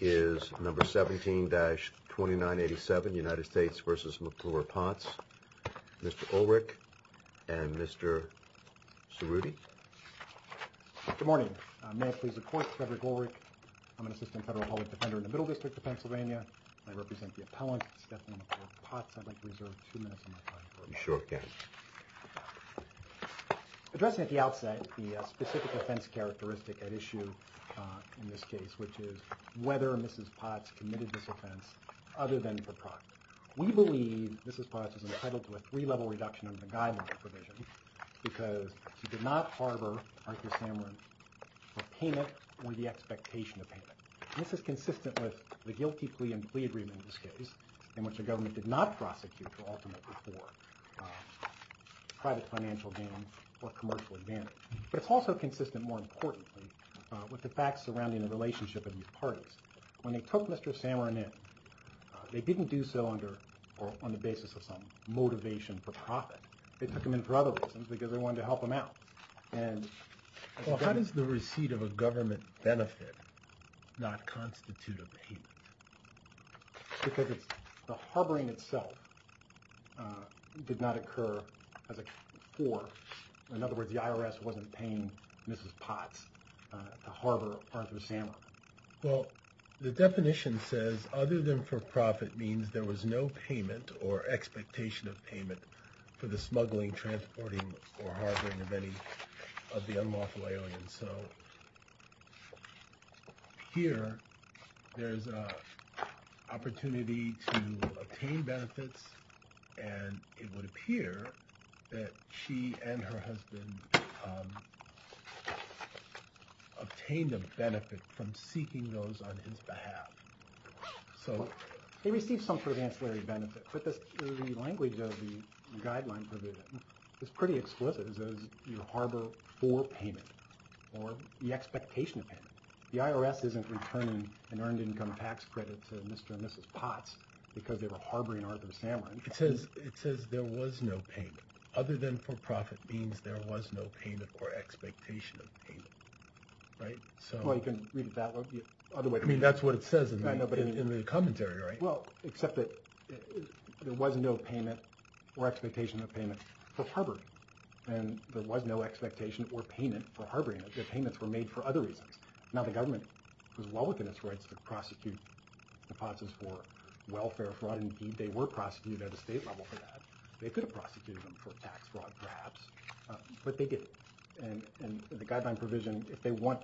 is number 17-2987, United States v. McClure-Potts. Mr. Ulrich and Mr. Cerruti. Good morning. May I please report, Frederick Ulrich. I'm an assistant federal public defender in the Middle District of Pennsylvania. I represent the appellants, Stephanie McClure-Potts. I'd like to reserve two minutes of my time for that. You sure can. Addressing at the outset the specific offense characteristic at issue in this case, which is whether Mrs. Potts committed this offense other than for profit. We believe Mrs. Potts was entitled to a three-level reduction under the Guidelines provision because she did not harbor, Arthur Samarin, a payment or the expectation of payment. This is consistent with the guilty plea and plea agreement in this case, in which the government did not prosecute her ultimately for private financial gain or commercial advantage. But it's also consistent, more importantly, with the facts surrounding the relationship of these parties. When they took Mr. Samarin in, they didn't do so on the basis of some motivation for profit. They took him in for other reasons because they wanted to help him out. How does the receipt of a government benefit not constitute a payment? Because the harboring itself did not occur as a for. In other words, the IRS wasn't paying Mrs. Potts to harbor Arthur Samarin. Well, the definition says other than for profit means there was no payment or expectation of payment for the smuggling, transporting, or harboring of any of the unlawful aliens. And so here there's an opportunity to obtain benefits, and it would appear that she and her husband obtained a benefit from seeking those on his behalf. So they received some sort of ancillary benefit, but the language of the guideline provision is pretty explicit. It says you harbor for payment or the expectation of payment. The IRS isn't returning an earned income tax credit to Mr. and Mrs. Potts because they were harboring Arthur Samarin. It says there was no payment. Other than for profit means there was no payment or expectation of payment, right? Well, you can read it that way. I mean, that's what it says in the commentary, right? Well, except that there was no payment or expectation of payment for harboring, and there was no expectation or payment for harboring. The payments were made for other reasons. Now, the government was well within its rights to prosecute the Pottses for welfare fraud. Indeed, they were prosecuted at the state level for that. They could have prosecuted them for tax fraud perhaps, but they didn't. And the guideline provision, if they want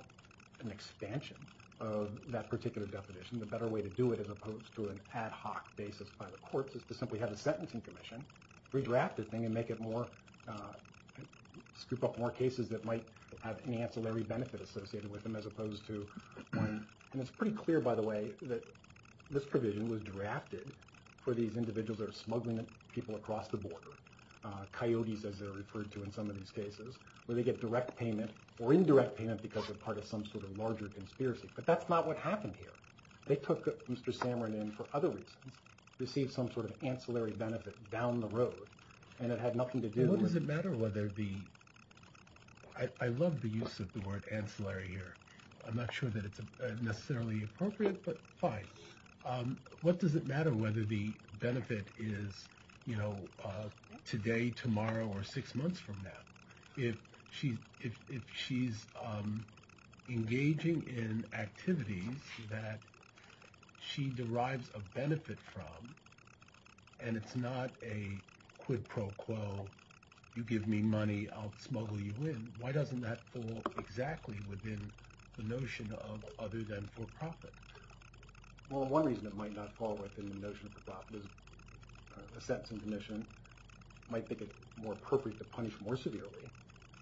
an expansion of that particular definition, the better way to do it as opposed to an ad hoc basis by the courts is to simply have a sentencing commission redraft the thing and make it more, scoop up more cases that might have an ancillary benefit associated with them as opposed to one. And it's pretty clear, by the way, that this provision was drafted for these individuals that are smuggling people across the border, coyotes as they're referred to in some of these cases, where they get direct payment or indirect payment because they're part of some sort of larger conspiracy. But that's not what happened here. They took Mr. Samarin in for other reasons, received some sort of ancillary benefit down the road, and it had nothing to do with... What does it matter whether the... I love the use of the word ancillary here. I'm not sure that it's necessarily appropriate, but fine. What does it matter whether the benefit is today, tomorrow, or six months from now? If she's engaging in activities that she derives a benefit from and it's not a quid pro quo, you give me money, I'll smuggle you in, why doesn't that fall exactly within the notion of other than for profit? Well, one reason it might not fall within the notion of for profit is a sentencing commission might think it more appropriate to punish more severely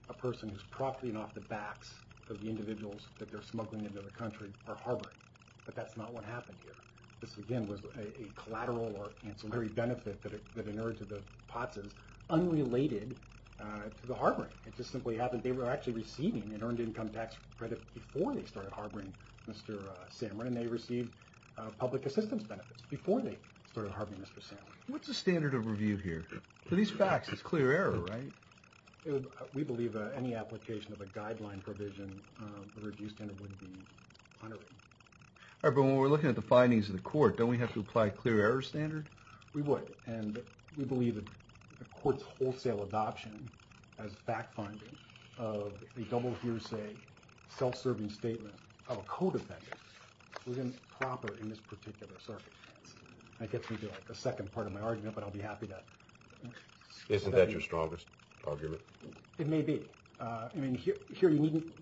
a person who's profiting off the backs of the individuals that they're smuggling into the country or harboring. But that's not what happened here. This, again, was a collateral or ancillary benefit that inherited the POTSs unrelated to the harboring. It just simply happened they were actually receiving an earned income tax credit before they started harboring Mr. Samarin, and they received public assistance benefits before they started harboring Mr. Samarin. What's the standard of review here? For these facts, it's clear error, right? We believe that any application of a guideline provision, the review standard would be underwritten. All right, but when we're looking at the findings of the court, don't we have to apply a clear error standard? We would, and we believe that the court's wholesale adoption as fact-finding of the double hearsay self-serving statement of a co-defendant was improper in this particular circumstance. That gets me to a second part of my argument, but I'll be happy to— Isn't that your strongest argument? It may be. I mean, here you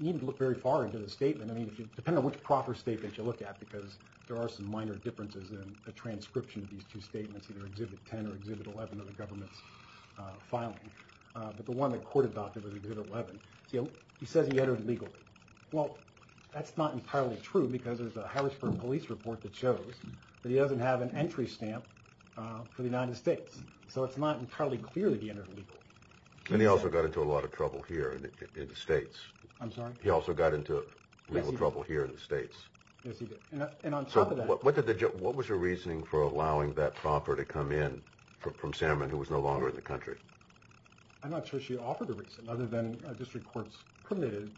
needn't look very far into the statement. I mean, depending on which proper statement you look at, because there are some minor differences in the transcription of these two statements, either Exhibit 10 or Exhibit 11 of the government's filing. But the one the court adopted was Exhibit 11. See, he says he entered legally. Well, that's not entirely true, because there's a Harrisburg police report that shows that he doesn't have an entry stamp for the United States. So it's not entirely clear that he entered legally. And he also got into a lot of trouble here in the States. I'm sorry? He also got into a little trouble here in the States. Yes, he did. And on top of that— So what was your reasoning for allowing that proper to come in from Samerman, who was no longer in the country? I'm not sure she offered a reason other than district courts permitted,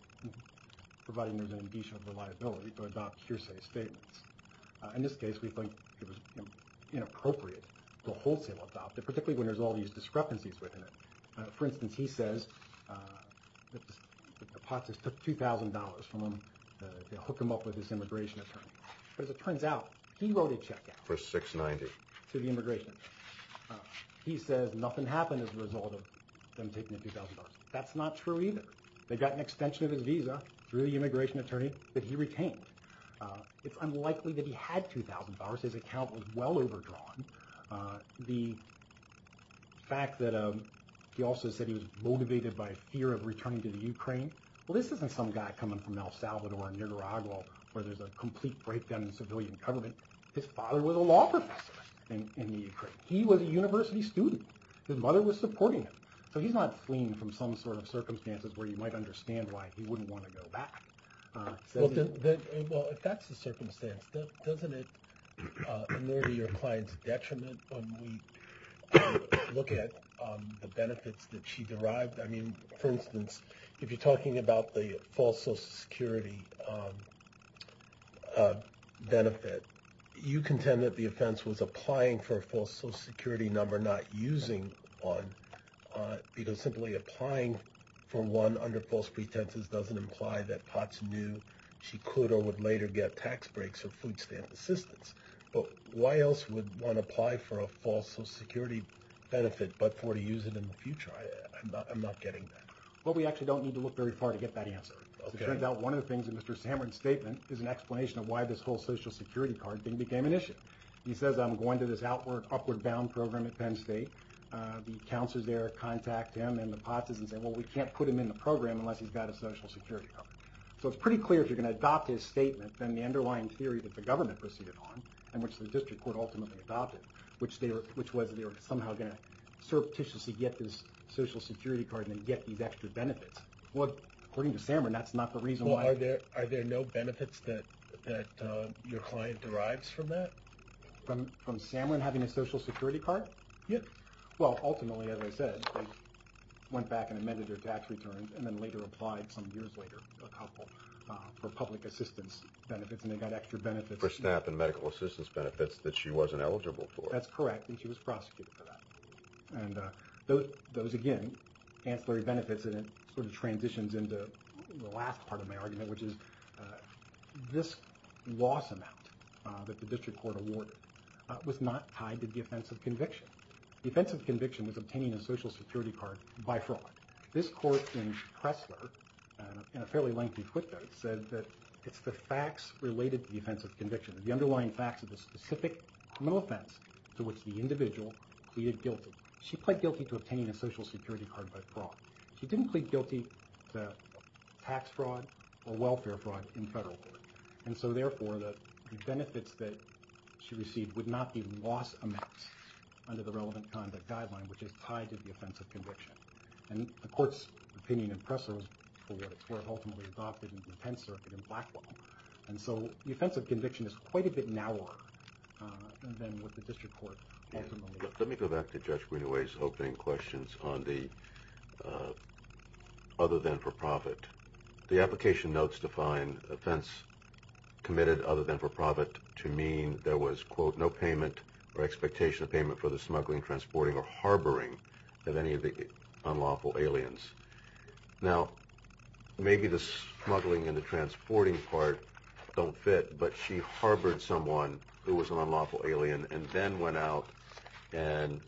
providing there's an additional liability, to adopt hearsay statements. In this case, we think it was inappropriate to wholesale adopt it, particularly when there's all these discrepancies within it. For instance, he says the POTS took $2,000 from him to hook him up with his immigration attorney. But as it turns out, he wrote a check out— For 690. —to the immigration attorney. He says nothing happened as a result of them taking the $2,000. That's not true either. They got an extension of his visa through the immigration attorney that he retained. It's unlikely that he had $2,000. His account was well overdrawn. The fact that he also said he was motivated by a fear of returning to the Ukraine, well, this isn't some guy coming from El Salvador or Nicaragua where there's a complete breakdown in civilian government. His father was a law professor in the Ukraine. He was a university student. His mother was supporting him. So he's not fleeing from some sort of circumstances where you might understand why he wouldn't want to go back. Well, if that's the circumstance, doesn't it nerdy your client's detriment when we look at the benefits that she derived? I mean, for instance, if you're talking about the false Social Security benefit, you contend that the offense was applying for a false Social Security number, not using one, because simply applying for one under false pretenses doesn't imply that Potts knew she could or would later get tax breaks or food stamp assistance. But why else would one apply for a false Social Security benefit but for to use it in the future? I'm not getting that. Well, we actually don't need to look very far to get that answer. It turns out one of the things in Mr. Samard's statement is an explanation of why this whole Social Security card thing became an issue. He says, I'm going to this Upward Bound program at Penn State. The counselor's there to contact him and the Potts' and say, well, we can't put him in the program unless he's got a Social Security card. So it's pretty clear if you're going to adopt his statement, then the underlying theory that the government proceeded on, and which the district court ultimately adopted, which was they were somehow going to surreptitiously get this Social Security card and then get these extra benefits. Well, according to Samard, that's not the reason why. Well, are there no benefits that your client derives from that? From Samard having a Social Security card? Yes. Well, ultimately, as I said, they went back and amended their tax returns and then later applied some years later, a couple, for public assistance benefits, and they got extra benefits. For staff and medical assistance benefits that she wasn't eligible for. That's correct, and she was prosecuted for that. And those, again, ancillary benefits, and it sort of transitions into the last part of my argument, which is this loss amount that the district court awarded was not tied to the offense of conviction. The offense of conviction was obtaining a Social Security card by fraud. This court in Pressler, in a fairly lengthy footnote, said that it's the facts related to the offense of conviction, the underlying facts of the specific criminal offense to which the individual pleaded guilty. She pled guilty to obtaining a Social Security card by fraud. She didn't plead guilty to tax fraud or welfare fraud in federal court, and so, therefore, the benefits that she received would not be loss amounts under the relevant conduct guideline, which is tied to the offense of conviction. And the court's opinion in Pressler was for what it's worth, ultimately adopted in the Penn Circuit in Blackwell. And so the offense of conviction is quite a bit narrower than what the district court ultimately did. Let me go back to Judge Greenaway's opening questions on the other than for profit. The application notes define offense committed other than for profit to mean there was, quote, no payment or expectation of payment for the smuggling, transporting, or harboring of any of the unlawful aliens. Now, maybe the smuggling and the transporting part don't fit, but she harbored someone who was an unlawful alien and then went out and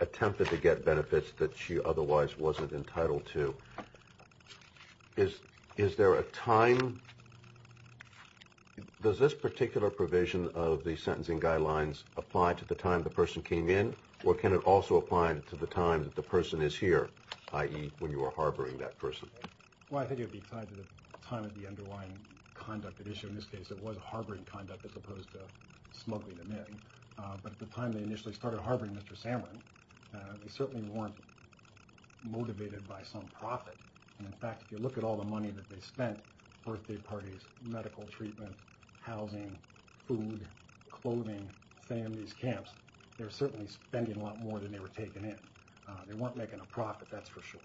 attempted to get benefits that she otherwise wasn't entitled to. Is there a time? Does this particular provision of the sentencing guidelines apply to the time the person came in, or can it also apply to the time that the person is here, i.e., when you are harboring that person? Well, I think it would be tied to the time of the underlying conduct at issue. In this case, it was harboring conduct as opposed to smuggling them in. But at the time they initially started harboring Mr. Samarin, they certainly weren't motivated by some profit. In fact, if you look at all the money that they spent, birthday parties, medical treatment, housing, food, clothing, families, camps, they were certainly spending a lot more than they were taking in. They weren't making a profit, that's for sure.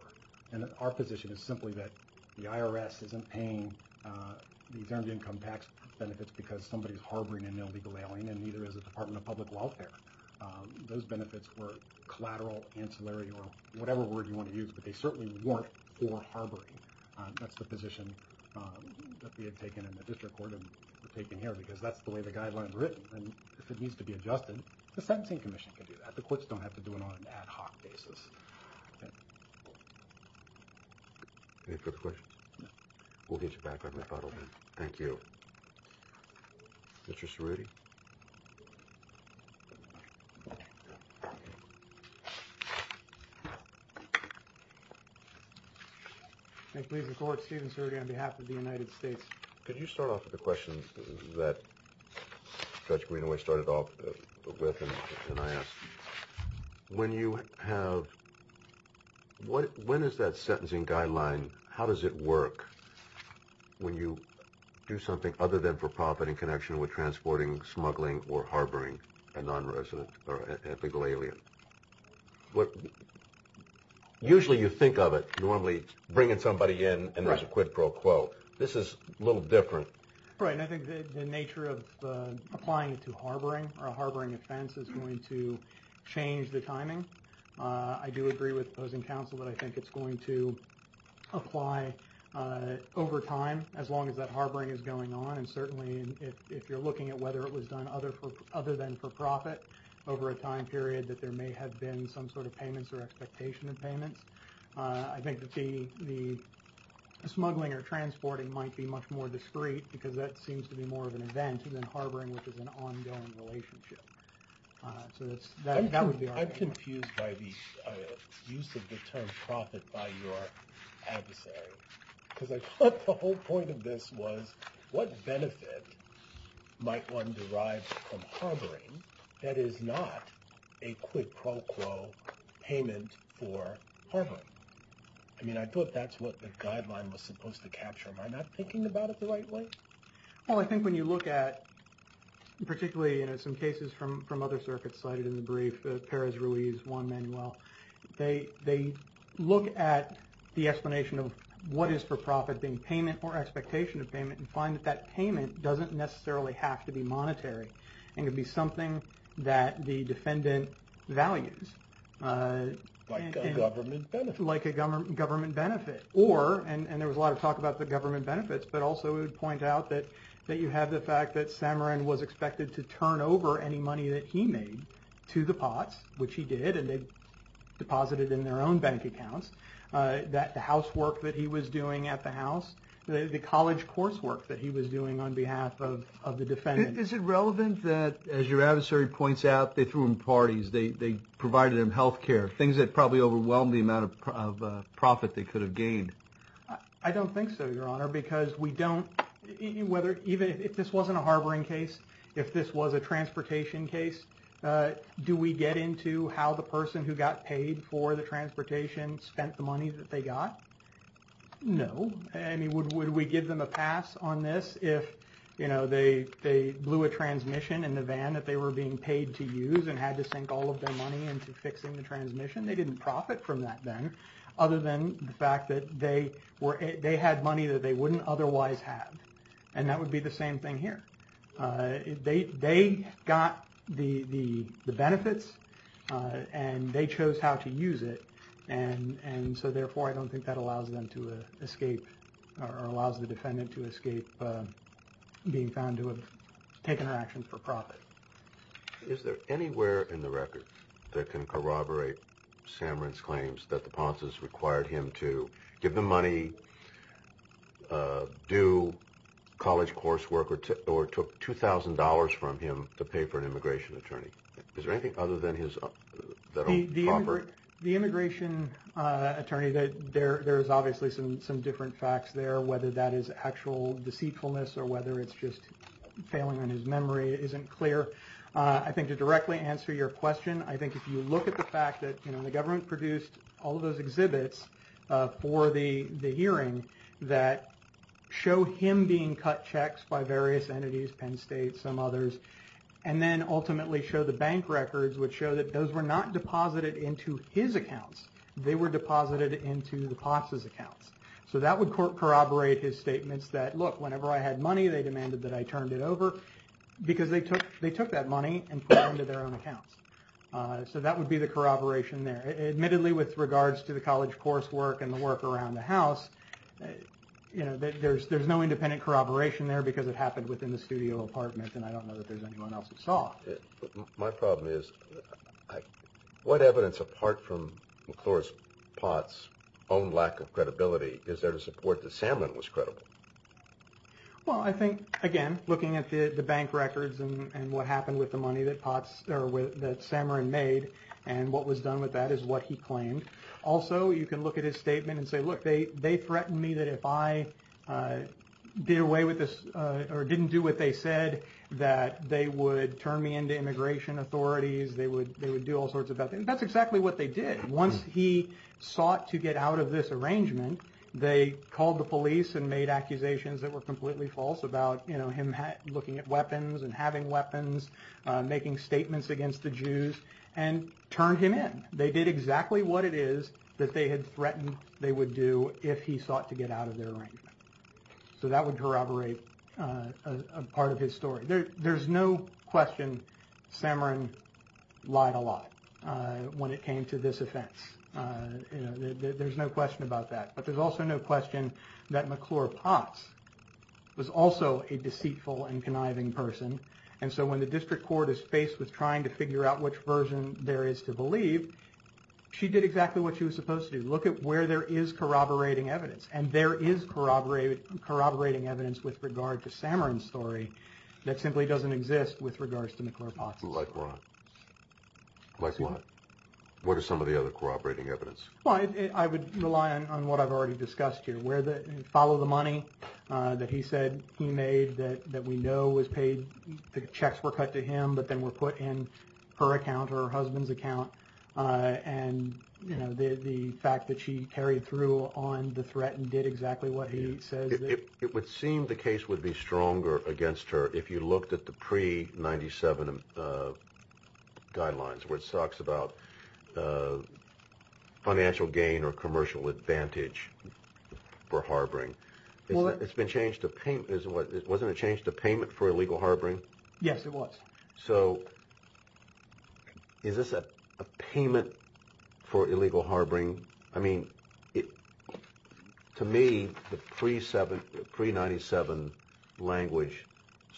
And our position is simply that the IRS isn't paying these earned income tax benefits because somebody is harboring an illegal alien and neither is the Department of Public Welfare. Those benefits were collateral, ancillary, or whatever word you want to use, but they certainly weren't for harboring. That's the position that we had taken in the district court and we're taking here because that's the way the guidelines are written. And if it needs to be adjusted, the Sentencing Commission can do that. The courts don't have to do it on an ad hoc basis. Any further questions? No. We'll get you back on the phone. Okay. Thank you. Mr. Cerruti? Thank you, Leader of the Court. Steven Cerruti on behalf of the United States. Could you start off with a question that Judge Greenaway started off with and I asked? When you have – when is that sentencing guideline – how does it work when you do something other than for profit in connection with transporting, smuggling, or harboring a nonresident or illegal alien? Usually you think of it normally bringing somebody in and there's a quid pro quo. This is a little different. Right, and I think the nature of applying it to harboring or a harboring offense is going to change the timing. I do agree with the opposing counsel that I think it's going to apply over time as long as that harboring is going on. And certainly if you're looking at whether it was done other than for profit over a time period that there may have been some sort of payments or expectation of payments. I think that the smuggling or transporting might be much more discreet because that seems to be more of an event than harboring, which is an ongoing relationship. I'm confused by the use of the term profit by your adversary because I thought the whole point of this was what benefit might one derive from harboring that is not a quid pro quo payment for harboring. I mean I thought that's what the guideline was supposed to capture. Am I not thinking about it the right way? Well I think when you look at, particularly in some cases from other circuits cited in the brief, Perez-Ruiz, Juan Manuel, they look at the explanation of what is for profit being payment or expectation of payment and find that that payment doesn't necessarily have to be monetary and can be something that the defendant values. Like a government benefit. Like a government benefit. Or, and there was a lot of talk about the government benefits, but also it would point out that you have the fact that Samarin was expected to turn over any money that he made to the Potts, which he did and they deposited in their own bank accounts, that the housework that he was doing at the house, the college coursework that he was doing on behalf of the defendant. Is it relevant that, as your adversary points out, they threw him parties, they provided him health care, things that probably overwhelmed the amount of profit they could have gained? I don't think so, Your Honor, because we don't, whether, even if this wasn't a harboring case, if this was a transportation case, do we get into how the person who got paid for the transportation spent the money that they got? No. I mean, would we give them a pass on this if, you know, they blew a transmission in the van that they were being paid to use and had to sink all of their money into fixing the transmission? They didn't profit from that then, other than the fact that they had money that they wouldn't otherwise have. And that would be the same thing here. They got the benefits and they chose how to use it, and so, therefore, I don't think that allows them to escape or allows the defendant to escape being found to have taken an action for profit. Is there anywhere in the record that can corroborate Samarin's claims that the Ponces required him to give them money, do college coursework, or took $2,000 from him to pay for an immigration attorney? Is there anything other than his federal property? The immigration attorney, there's obviously some different facts there, whether that is actual deceitfulness or whether it's just failing on his memory isn't clear. I think to directly answer your question, I think if you look at the fact that, you know, the government produced all of those exhibits for the hearing that show him being cut checks by various entities, Penn State, some others, and then ultimately show the bank records, which show that those were not deposited into his accounts. They were deposited into the Ponce's accounts. So that would corroborate his statements that, look, whenever I had money, they demanded that I turned it over because they took that money and put it into their own accounts. So that would be the corroboration there. Admittedly, with regards to the college coursework and the work around the house, you know, there's no independent corroboration there because it happened within the studio apartment, and I don't know that there's anyone else who saw it. My problem is what evidence, apart from McClure's Ponce's own lack of credibility, is there to support that Samerin was credible? Well, I think, again, looking at the bank records and what happened with the money that Samerin made and what was done with that is what he claimed. Also, you can look at his statement and say, look, they threatened me that if I did away with this or didn't do what they said that they would turn me into immigration authorities, they would do all sorts of bad things. That's exactly what they did. Once he sought to get out of this arrangement, they called the police and made accusations that were completely false about him looking at weapons and having weapons, making statements against the Jews, and turned him in. They did exactly what it is that they had threatened they would do if he sought to get out of their arrangement. So that would corroborate a part of his story. There's no question Samerin lied a lot when it came to this offense. There's no question about that. But there's also no question that McClure Ponce was also a deceitful and conniving person, and so when the district court is faced with trying to figure out which version there is to believe, she did exactly what she was supposed to do. Look at where there is corroborating evidence, and there is corroborating evidence with regard to Samerin's story that simply doesn't exist with regards to McClure Ponce's story. Like what? What are some of the other corroborating evidence? I would rely on what I've already discussed here. Follow the money that he said he made that we know was paid. The checks were cut to him, but then were put in her account or her husband's account, and the fact that she carried through on the threat and did exactly what he says. It would seem the case would be stronger against her if you looked at the pre-'97 guidelines where it talks about financial gain or commercial advantage for harboring. It's been changed to payment. Wasn't it changed to payment for illegal harboring? Yes, it was. So is this a payment for illegal harboring? I mean, to me, the pre-'97 language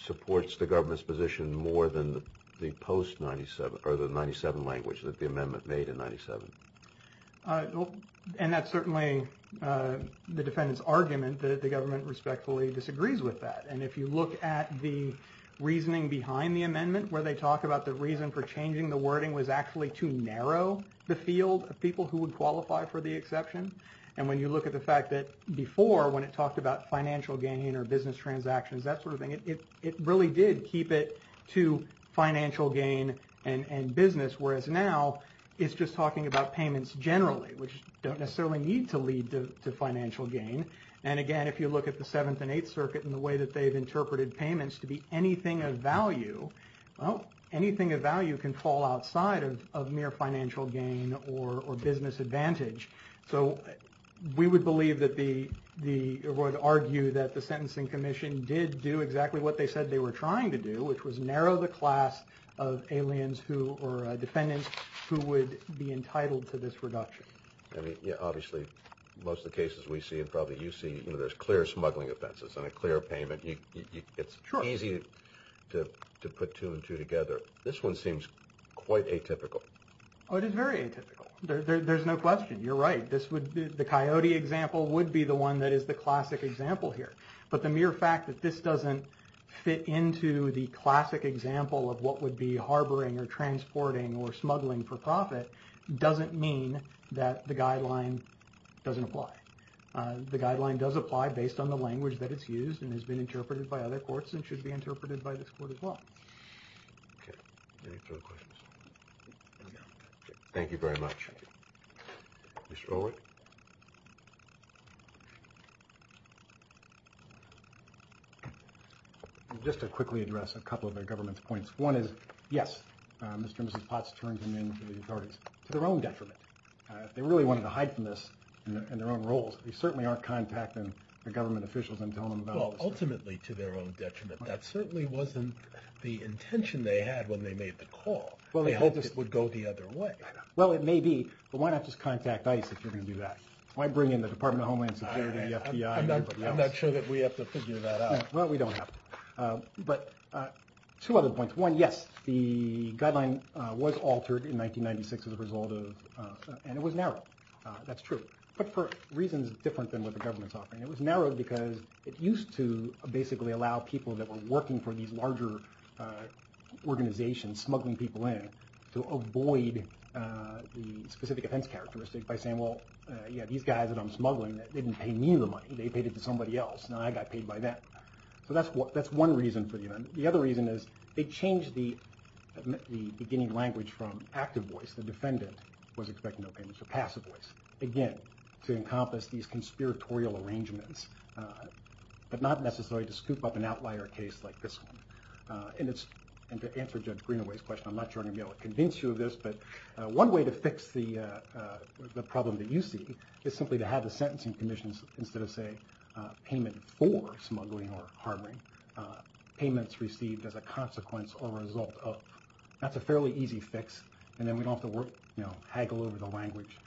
supports the government's position more than the post-'97 or the 97 language that the amendment made in 97. And that's certainly the defendant's argument that the government respectfully disagrees with that. And if you look at the reasoning behind the amendment where they talk about the reason for changing the wording was actually to narrow the field of people who would qualify for the exception. And when you look at the fact that before when it talked about financial gain or business transactions, that sort of thing, it really did keep it to financial gain and business, whereas now it's just talking about payments generally, which don't necessarily need to lead to financial gain. And again, if you look at the Seventh and Eighth Circuit and the way that they've interpreted payments to be anything of value, well, anything of value can fall outside of mere financial gain or business advantage. So we would argue that the Sentencing Commission did do exactly what they said they were trying to do, which was narrow the class of defendants who would be entitled to this reduction. I mean, obviously, most of the cases we see and probably you see, you know, there's clear smuggling offenses and a clear payment. It's easy to put two and two together. This one seems quite atypical. Oh, it is very atypical. There's no question. You're right. The Coyote example would be the one that is the classic example here. But the mere fact that this doesn't fit into the classic example of what would be harboring or transporting or smuggling for profit doesn't mean that the guideline doesn't apply. The guideline does apply based on the language that it's used and has been interpreted by other courts and should be interpreted by this court as well. Okay. Any further questions? Okay. Thank you very much. Mr. Oward? Just to quickly address a couple of the government's points. One is, yes, Mr. and Mrs. Potts turned him in to the authorities to their own detriment. They really wanted to hide from this in their own roles. They certainly aren't contacting the government officials and telling them about this. Well, ultimately to their own detriment. That certainly wasn't the intention they had when they made the call. They hoped it would go the other way. Well, it may be, but why not just contact ICE if you're going to do that? Why bring in the Department of Homeland Security, the FBI, everybody else? I'm not sure that we have to figure that out. Well, we don't have to. But two other points. One, yes, the guideline was altered in 1996 as a result of, and it was narrowed. That's true. But for reasons different than what the government's offering. It was narrowed because it used to basically allow people that were working for these larger organizations, smuggling people in, to avoid the specific offense characteristic by saying, well, these guys that I'm smuggling, they didn't pay me the money. They paid it to somebody else, and I got paid by them. So that's one reason. The other reason is they changed the beginning language from active voice, the defendant was expecting no payments, to passive voice. Again, to encompass these conspiratorial arrangements, but not necessarily to scoop up an outlier case like this one. And to answer Judge Greenaway's question, I'm not sure I'm going to be able to convince you of this, but one way to fix the problem that you see is simply to have the sentencing commission, instead of, say, payment for smuggling or harboring, payments received as a consequence or result of. That's a fairly easy fix, and then we don't have to, you know, haggle over the language.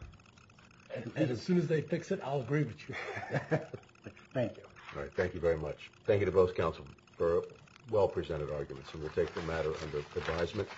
And as soon as they fix it, I'll agree with you. Thank you. All right. Thank you very much. Thank you to both counsel for well-presented arguments. And we'll take the matter under advisement.